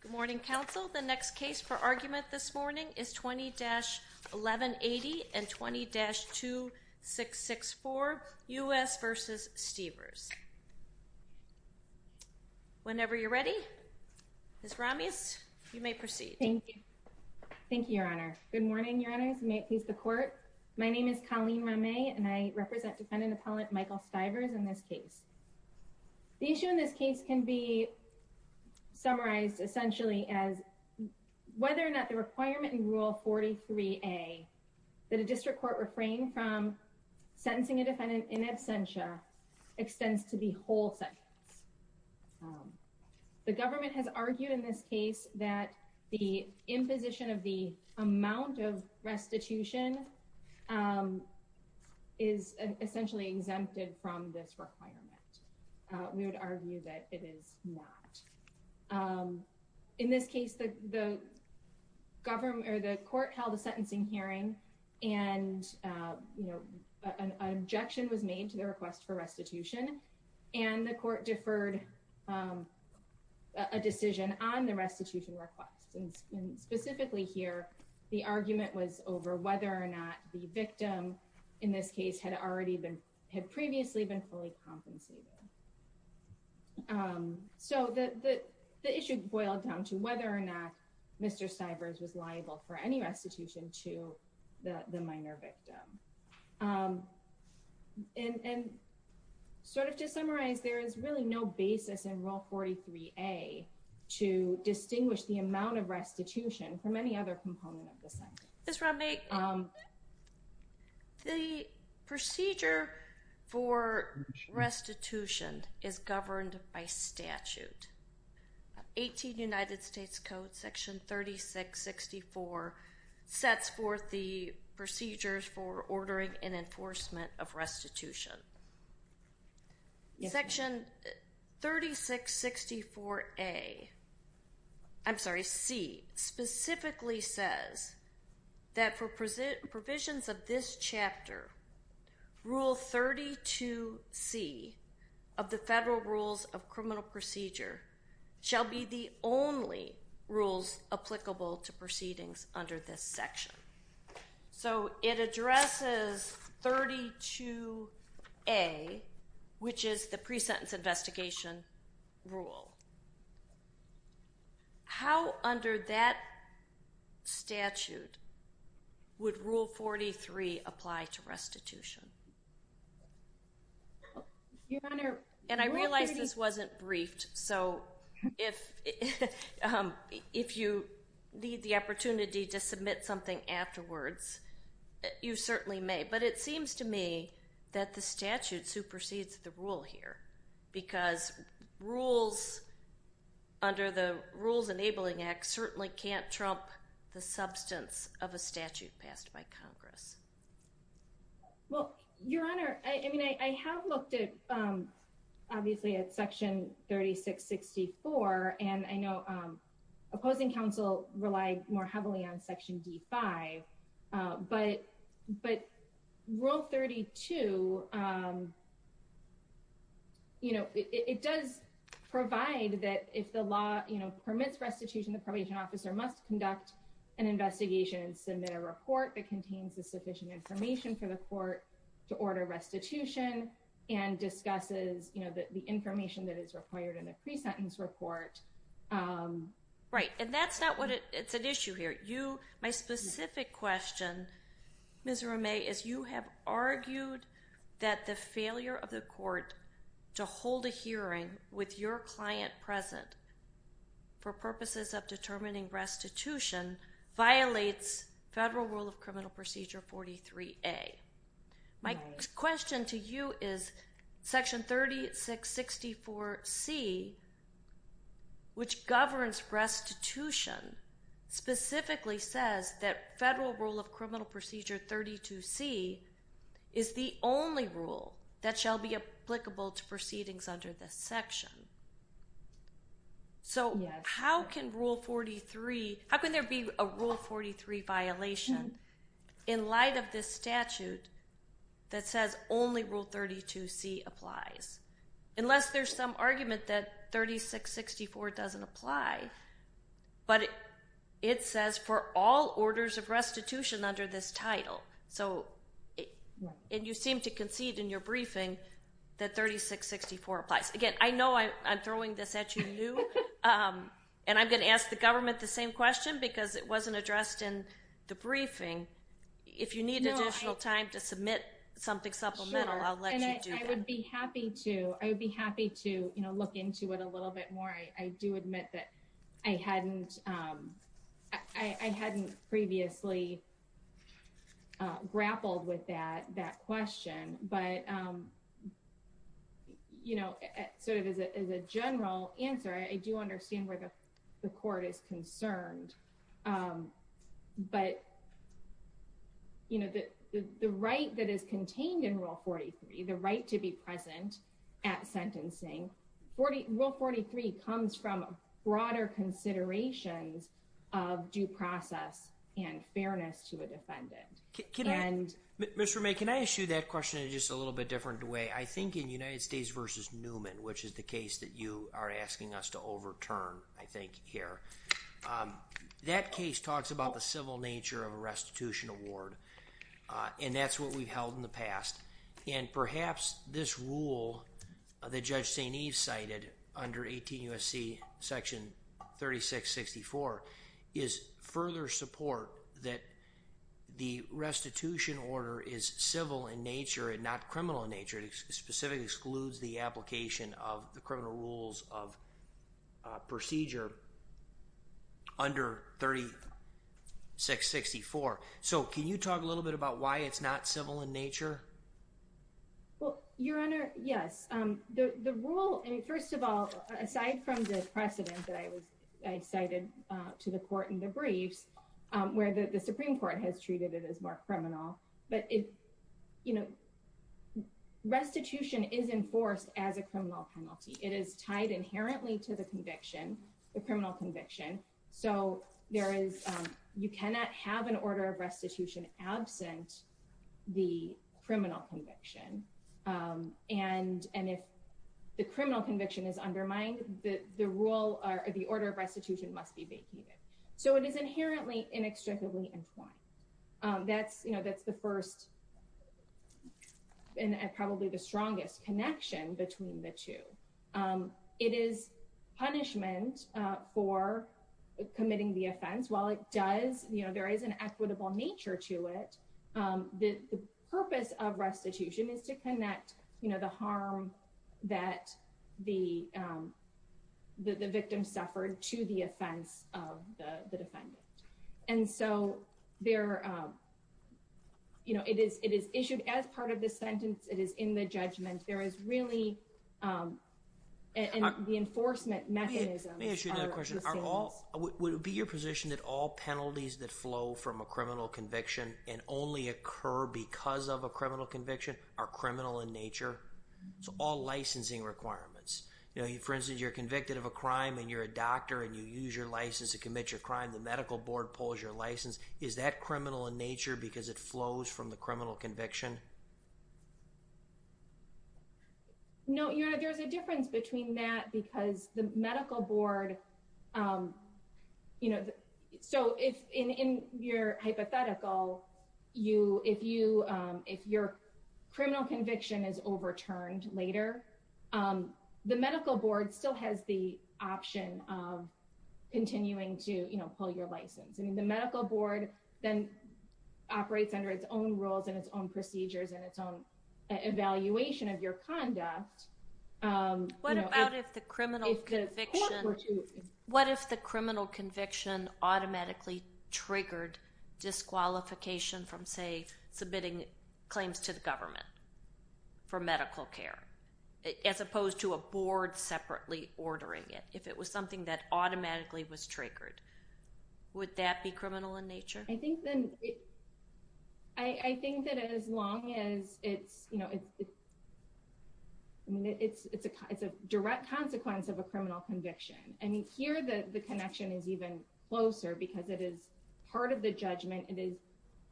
Good morning, counsel. The next case for argument this morning is 20-1180 and 20-2664, U.S. v. Stivers. Whenever you're ready, Ms. Ramis, you may proceed. Thank you. Thank you, Your Honor. Good morning, Your Honors, and may it please the Court. My name is Colleen Ramay, and I represent Defendant Appellant Michael Stivers in this case. The issue in this case can be summarized essentially as whether or not the requirement in Rule 43A that a district court refrain from sentencing a defendant in absentia extends to the whole sentence. The government has argued in this case that the imposition of the amount of restitution is essentially exempted from this requirement. We would argue that it is not. In this case, the court held a sentencing hearing, and an objection was made to the request for restitution, and the court deferred a decision on the restitution request. Specifically here, the argument was over whether or not the victim in this case had previously been fully compensated. So the issue boiled down to whether or not Mr. Stivers was liable for any restitution to the minor victim. And sort of to summarize, there is really no basis in Rule 43A to distinguish the amount of restitution from any other component of the sentence. Ms. Ramay, the procedure for restitution is governed by statute. 18 United States Code Section 3664 sets forth the procedures for ordering and enforcement of restitution. Section 3664A, I'm sorry, C, specifically says that for provisions of this chapter, Rule 32C of the Federal Rules of Criminal Procedure shall be the only rules applicable to proceedings under this section. So it addresses 32A, which is the pre-sentence investigation rule. How under that statute would Rule 43 apply to restitution? And I realize this wasn't briefed, so if you need the opportunity to submit something afterwards, you certainly may. But it seems to me that the statute supersedes the rule here, because rules under the Rules Enabling Act certainly can't trump the substance of a statute passed by Congress. Well, Your Honor, I mean, I have looked at, obviously, at Section 3664, and I know opposing counsel relied more heavily on Section D5. But Rule 32, it does provide that if the law permits restitution, the probation officer must conduct an investigation and submit a report that contains sufficient information for the court to order restitution, and discusses the information that is required in a pre-sentence report. Right, and that's not what – it's an issue here. You – my specific question, Ms. Romay, is you have argued that the failure of the court to hold a hearing with your client present for purposes of determining restitution violates Federal Rule of Criminal Procedure 43A. My question to you is Section 3664C, which governs restitution, specifically says that Federal Rule of Criminal Procedure 32C is the only rule that shall be applicable to proceedings under this section. So how can Rule 43 – how can there be a Rule 43 violation in light of this statute that says only Rule 32C applies? Unless there's some argument that 3664 doesn't apply, but it says for all orders of restitution under this title. So – and you seem to concede in your briefing that 3664 applies. Again, I know I'm throwing this at you new, and I'm going to ask the government the same question because it wasn't addressed in the briefing. If you need additional time to submit something supplemental, I'll let you do that. Sure, and I would be happy to. I would be happy to, you know, look into it a little bit more. I do admit that I hadn't previously grappled with that question, but, you know, sort of as a general answer, I do understand where the court is concerned. But, you know, the right that is contained in Rule 43, the right to be present at sentencing, Rule 43 comes from broader considerations of due process and fairness to a defendant. Mr. May, can I ask you that question in just a little bit different way? I think in United States v. Newman, which is the case that you are asking us to overturn, I think, here, that case talks about the civil nature of a restitution award, and that's what we've held in the past. And perhaps this rule that Judge St. Eve cited under 18 U.S.C. section 3664 is further support that the restitution order is civil in nature and not criminal in nature. It specifically excludes the application of the criminal rules of procedure under 3664. So, can you talk a little bit about why it's not civil in nature? Well, Your Honor, yes. The rule, first of all, aside from the precedent that I cited to the court in the briefs, where the Supreme Court has treated it as more criminal, but restitution is enforced as a criminal penalty. It is tied inherently to the conviction, the criminal conviction. So, you cannot have an order of restitution absent the criminal conviction. And if the criminal conviction is undermined, the order of restitution must be vacated. So, it is inherently inextricably entwined. That's, you know, that's the first and probably the strongest connection between the two. It is punishment for committing the offense. While it does, you know, there is an equitable nature to it, the purpose of restitution is to connect, you know, the harm that the victim suffered to the offense of the defendant. And so, there, you know, it is issued as part of the sentence. It is in the judgment. There is really an enforcement mechanism. Let me ask you another question. Would it be your position that all penalties that flow from a criminal conviction and only occur because of a criminal conviction are criminal in nature? So, all licensing requirements. You know, for instance, you're convicted of a crime and you're a doctor and you use your license to commit your crime, the medical board pulls your license. Is that criminal in nature because it flows from the criminal conviction? No, you know, there's a difference between that because the medical board, you know, so if in your hypothetical, you, if you, if your criminal conviction is overturned later, the medical board still has the option of continuing to, you know, pull your license. I mean, the medical board then operates under its own rules and its own procedures and its own evaluation of your conduct. What about if the criminal conviction, what if the criminal conviction automatically triggered disqualification from, say, submitting claims to the government for medical care, as opposed to a board separately ordering it? If it was something that automatically was triggered, would that be criminal in nature? I think that as long as it's, you know, it's a direct consequence of a criminal conviction. I mean, here, the connection is even closer because it is part of the judgment. It is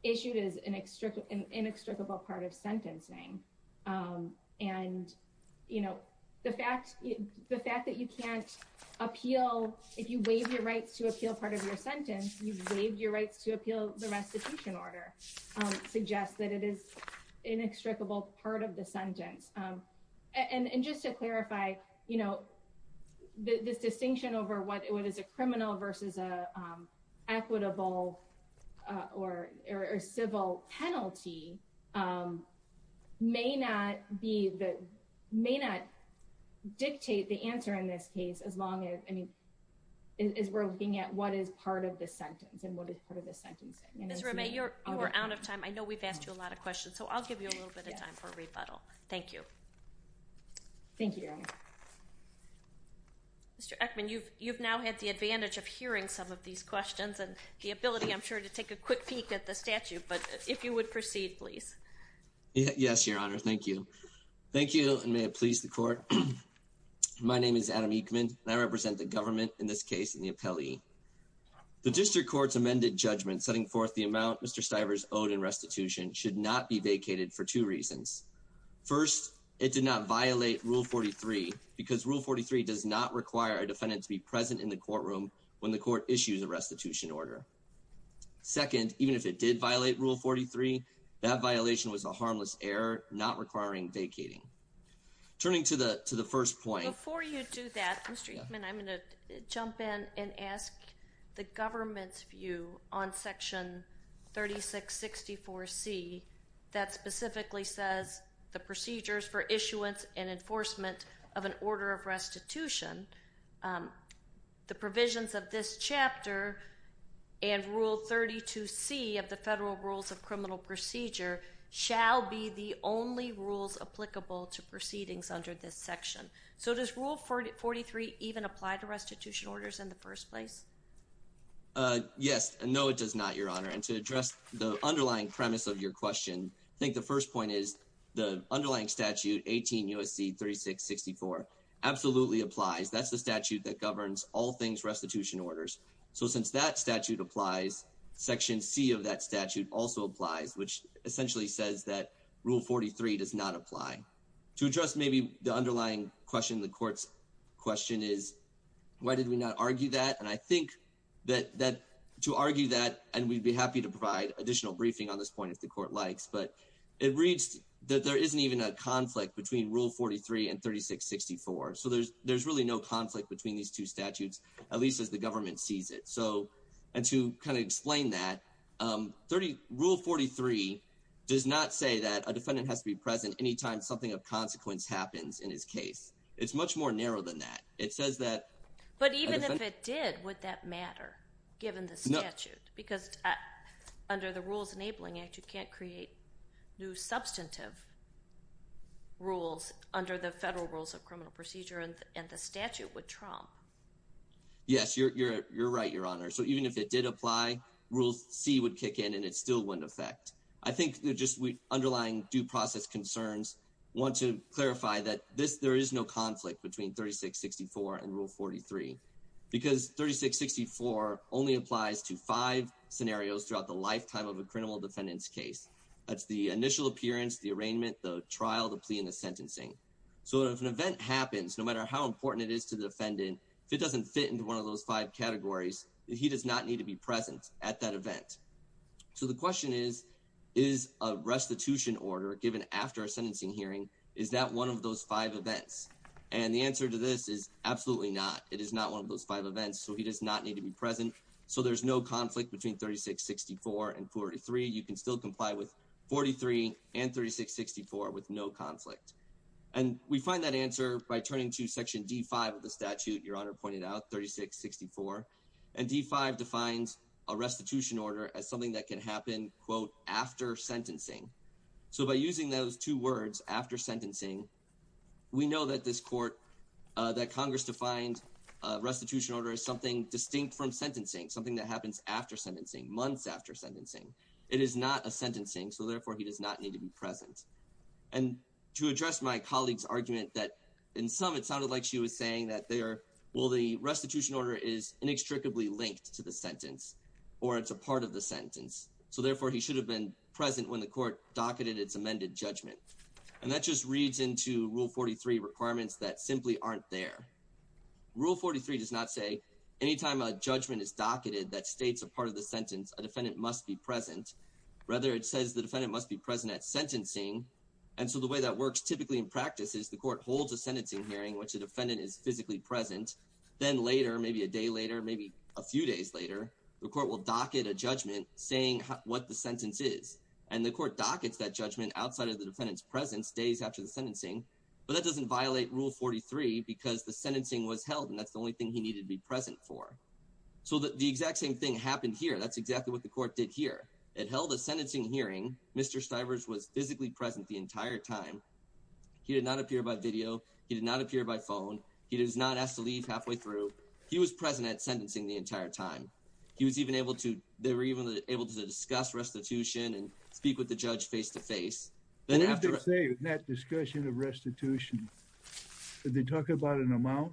issued as an inextricable part of sentencing. And, you know, the fact that you can't appeal, if you waive your rights to appeal part of your sentence, you've waived your rights to appeal the restitution order, suggests that it is inextricable part of the sentence. And just to clarify, you know, this distinction over what is a criminal versus an equitable or civil penalty may not be, may not dictate the answer in this case as long as, I mean, as we're looking at what is part of the sentence and what is part of the sentencing. Ms. Ramey, you are out of time. I know we've asked you a lot of questions, so I'll give you a little bit of time for a rebuttal. Thank you. Thank you, Your Honor. Mr. Ekman, you've now had the advantage of hearing some of these questions and the ability, I'm sure, to take a quick peek at the statute, but if you would proceed, please. Yes, Your Honor. Thank you. Thank you, and may it please the Court. My name is Adam Ekman, and I represent the government in this case and the appellee. The district court's amended judgment setting forth the amount Mr. Stivers owed in restitution should not be vacated for two reasons. First, it did not violate Rule 43 because Rule 43 does not require a defendant to be present in the courtroom when the court issues a restitution order. Second, even if it did violate Rule 43, that violation was a harmless error not requiring vacating. Turning to the first point. Before you do that, Mr. Ekman, I'm going to jump in and ask the government's view on Section 3664C that specifically says the procedures for issuance and enforcement of an order of restitution, the provisions of this chapter and Rule 32C of the Federal Rules of Criminal Procedure shall be the only rules applicable to proceedings under this section. So does Rule 43 even apply to restitution orders in the first place? Yes. No, it does not, Your Honor. And to address the underlying premise of your question, I think the first point is the underlying statute, 18 U.S.C. 3664, absolutely applies. That's the statute that governs all things restitution orders. So since that statute applies, Section C of that statute also applies, which essentially says that Rule 43 does not apply. To address maybe the underlying question, the court's question is, why did we not argue that? And I think that to argue that, and we'd be happy to provide additional briefing on this point if the court likes, but it reads that there isn't even a conflict between Rule 43 and 3664. So there's really no conflict between these two statutes, at least as the government sees it. And to kind of explain that, Rule 43 does not say that a defendant has to be present any time something of consequence happens in his case. It's much more narrow than that. But even if it did, would that matter, given the statute? Because under the Rules Enabling Act, you can't create new substantive rules under the federal rules of criminal procedure, and the statute would trump. Yes, you're right, Your Honor. So even if it did apply, Rule C would kick in, and it still wouldn't affect. I think the underlying due process concerns want to clarify that there is no conflict between 3664 and Rule 43. Because 3664 only applies to five scenarios throughout the lifetime of a criminal defendant's case. That's the initial appearance, the arraignment, the trial, the plea, and the sentencing. So if an event happens, no matter how important it is to the defendant, if it doesn't fit into one of those five categories, he does not need to be present at that event. So the question is, is a restitution order given after a sentencing hearing, is that one of those five events? And the answer to this is absolutely not. It is not one of those five events, so he does not need to be present. So there's no conflict between 3664 and 43. You can still comply with 43 and 3664 with no conflict. And we find that answer by turning to Section D5 of the statute Your Honor pointed out, 3664. And D5 defines a restitution order as something that can happen, quote, after sentencing. So by using those two words, after sentencing, we know that this court, that Congress defined restitution order as something distinct from sentencing. Something that happens after sentencing, months after sentencing. It is not a sentencing, so therefore he does not need to be present. And to address my colleague's argument that in some it sounded like she was saying that there, well, the restitution order is inextricably linked to the sentence. Or it's a part of the sentence. So therefore he should have been present when the court docketed its amended judgment. And that just reads into Rule 43 requirements that simply aren't there. Rule 43 does not say, anytime a judgment is docketed that states a part of the sentence, a defendant must be present. Rather it says the defendant must be present at sentencing. And so the way that works typically in practice is the court holds a sentencing hearing in which the defendant is physically present. Then later, maybe a day later, maybe a few days later, the court will docket a judgment saying what the sentence is. And the court dockets that judgment outside of the defendant's presence days after the sentencing. But that doesn't violate Rule 43 because the sentencing was held and that's the only thing he needed to be present for. So the exact same thing happened here. That's exactly what the court did here. It held a sentencing hearing. Mr. Stivers was physically present the entire time. He did not appear by video. He did not appear by phone. He was not asked to leave halfway through. He was present at sentencing the entire time. He was even able to, they were even able to discuss restitution and speak with the judge face-to-face. What did they say in that discussion of restitution? Did they talk about an amount?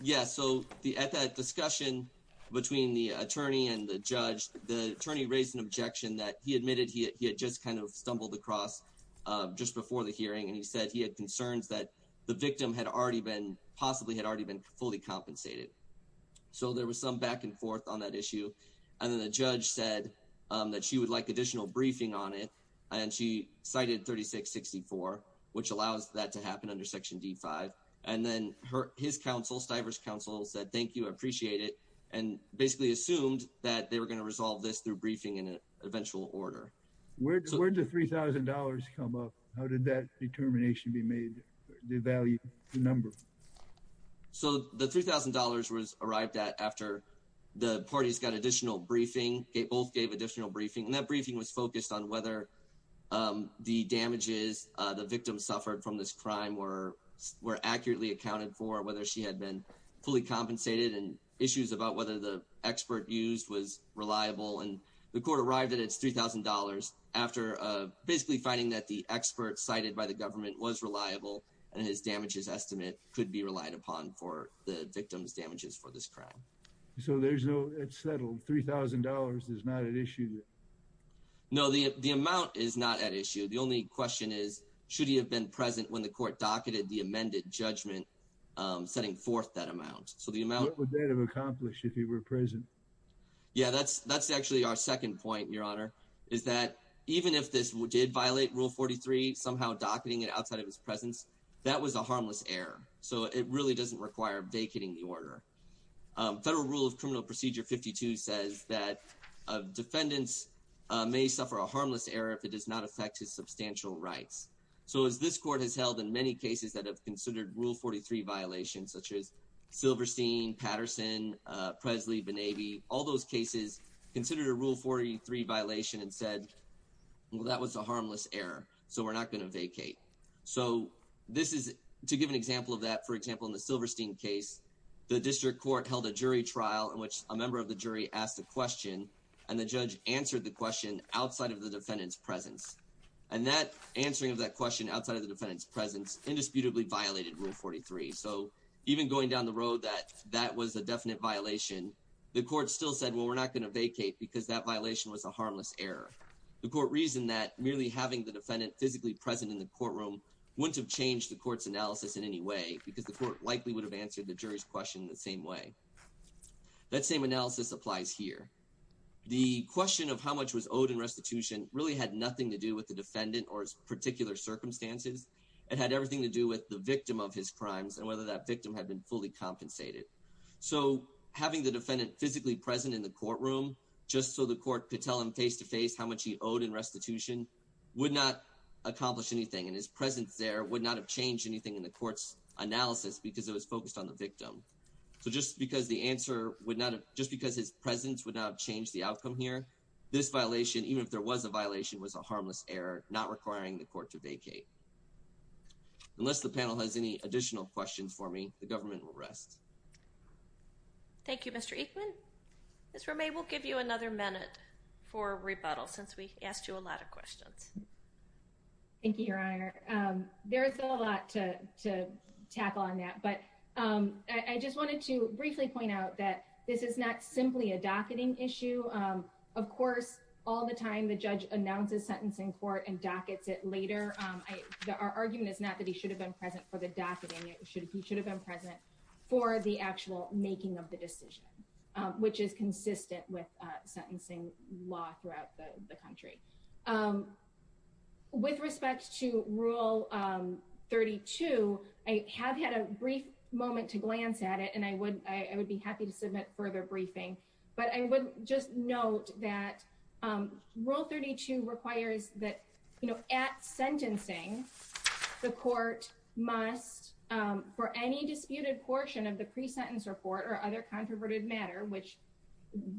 Yes, so at that discussion between the attorney and the judge, the attorney raised an objection that he admitted he had just kind of stumbled across just before the hearing. And he said he had concerns that the victim had already been, possibly had already been fully compensated. So there was some back and forth on that issue. And then the judge said that she would like additional briefing on it. And she cited 3664, which allows that to happen under Section D5. And then his counsel, Stivers' counsel, said thank you, I appreciate it. And basically assumed that they were going to resolve this through briefing in an eventual order. Where did the $3,000 come up? How did that determination be made? The value, the number? So the $3,000 was arrived at after the parties got additional briefing. They both gave additional briefing. And that briefing was focused on whether the damages the victim suffered from this crime were accurately accounted for. Whether she had been fully compensated and issues about whether the expert used was reliable. And the court arrived at its $3,000 after basically finding that the expert cited by the government was reliable. And his damages estimate could be relied upon for the victim's damages for this crime. So it's settled, $3,000 is not at issue? No, the amount is not at issue. The only question is, should he have been present when the court docketed the amended judgment setting forth that amount? What would that have accomplished if he were present? Yeah, that's actually our second point, Your Honor. Is that even if this did violate Rule 43, somehow docketing it outside of his presence, that was a harmless error. So it really doesn't require vacating the order. Federal Rule of Criminal Procedure 52 says that defendants may suffer a harmless error if it does not affect his substantial rights. So as this court has held in many cases that have considered Rule 43 violations, such as Silverstein, Patterson, Presley, Bonavi, all those cases considered a Rule 43 violation and said, well, that was a harmless error. So we're not going to vacate. So this is to give an example of that. For example, in the Silverstein case, the district court held a jury trial in which a member of the jury asked a question, and the judge answered the question outside of the defendant's presence. And that answering of that question outside of the defendant's presence indisputably violated Rule 43. So even going down the road that that was a definite violation, the court still said, well, we're not going to vacate because that violation was a harmless error. The court reasoned that merely having the defendant physically present in the courtroom wouldn't have changed the court's analysis in any way, because the court likely would have answered the jury's question the same way. That same analysis applies here. The question of how much was owed in restitution really had nothing to do with the defendant or his particular circumstances. It had everything to do with the victim of his crimes and whether that victim had been fully compensated. So having the defendant physically present in the courtroom, just so the court could tell him face-to-face how much he owed in restitution, would not accomplish anything. And his presence there would not have changed anything in the court's analysis because it was focused on the victim. So just because the answer would not have – just because his presence would not have changed the outcome here, this violation, even if there was a violation, was a harmless error, not requiring the court to vacate. Unless the panel has any additional questions for me, the government will rest. Thank you, Mr. Eichmann. Ms. Romay, we'll give you another minute for rebuttal since we asked you a lot of questions. Thank you, Your Honor. There is still a lot to tackle on that, but I just wanted to briefly point out that this is not simply a docketing issue. Of course, all the time the judge announces a sentence in court and dockets it later. Our argument is not that he should have been present for the docketing. He should have been present for the actual making of the decision, which is consistent with sentencing law throughout the country. With respect to Rule 32, I have had a brief moment to glance at it, and I would be happy to submit further briefing. But I would just note that Rule 32 requires that at sentencing, the court must, for any disputed portion of the pre-sentence report or other controverted matter, which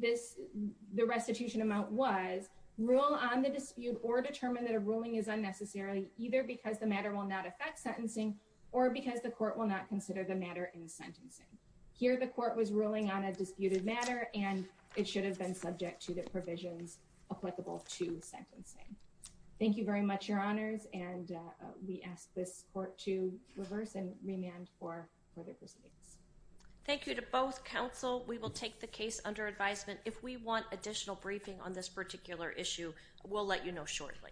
the restitution amount was, rule on the dispute or determine that a ruling is unnecessary, either because the matter will not affect sentencing or because the court will not consider the matter in sentencing. Here, the court was ruling on a disputed matter, and it should have been subject to the provisions applicable to sentencing. Thank you very much, Your Honors, and we ask this court to reverse and remand for further proceedings. Thank you to both counsel. We will take the case under advisement. If we want additional briefing on this particular issue, we'll let you know shortly. Thank you.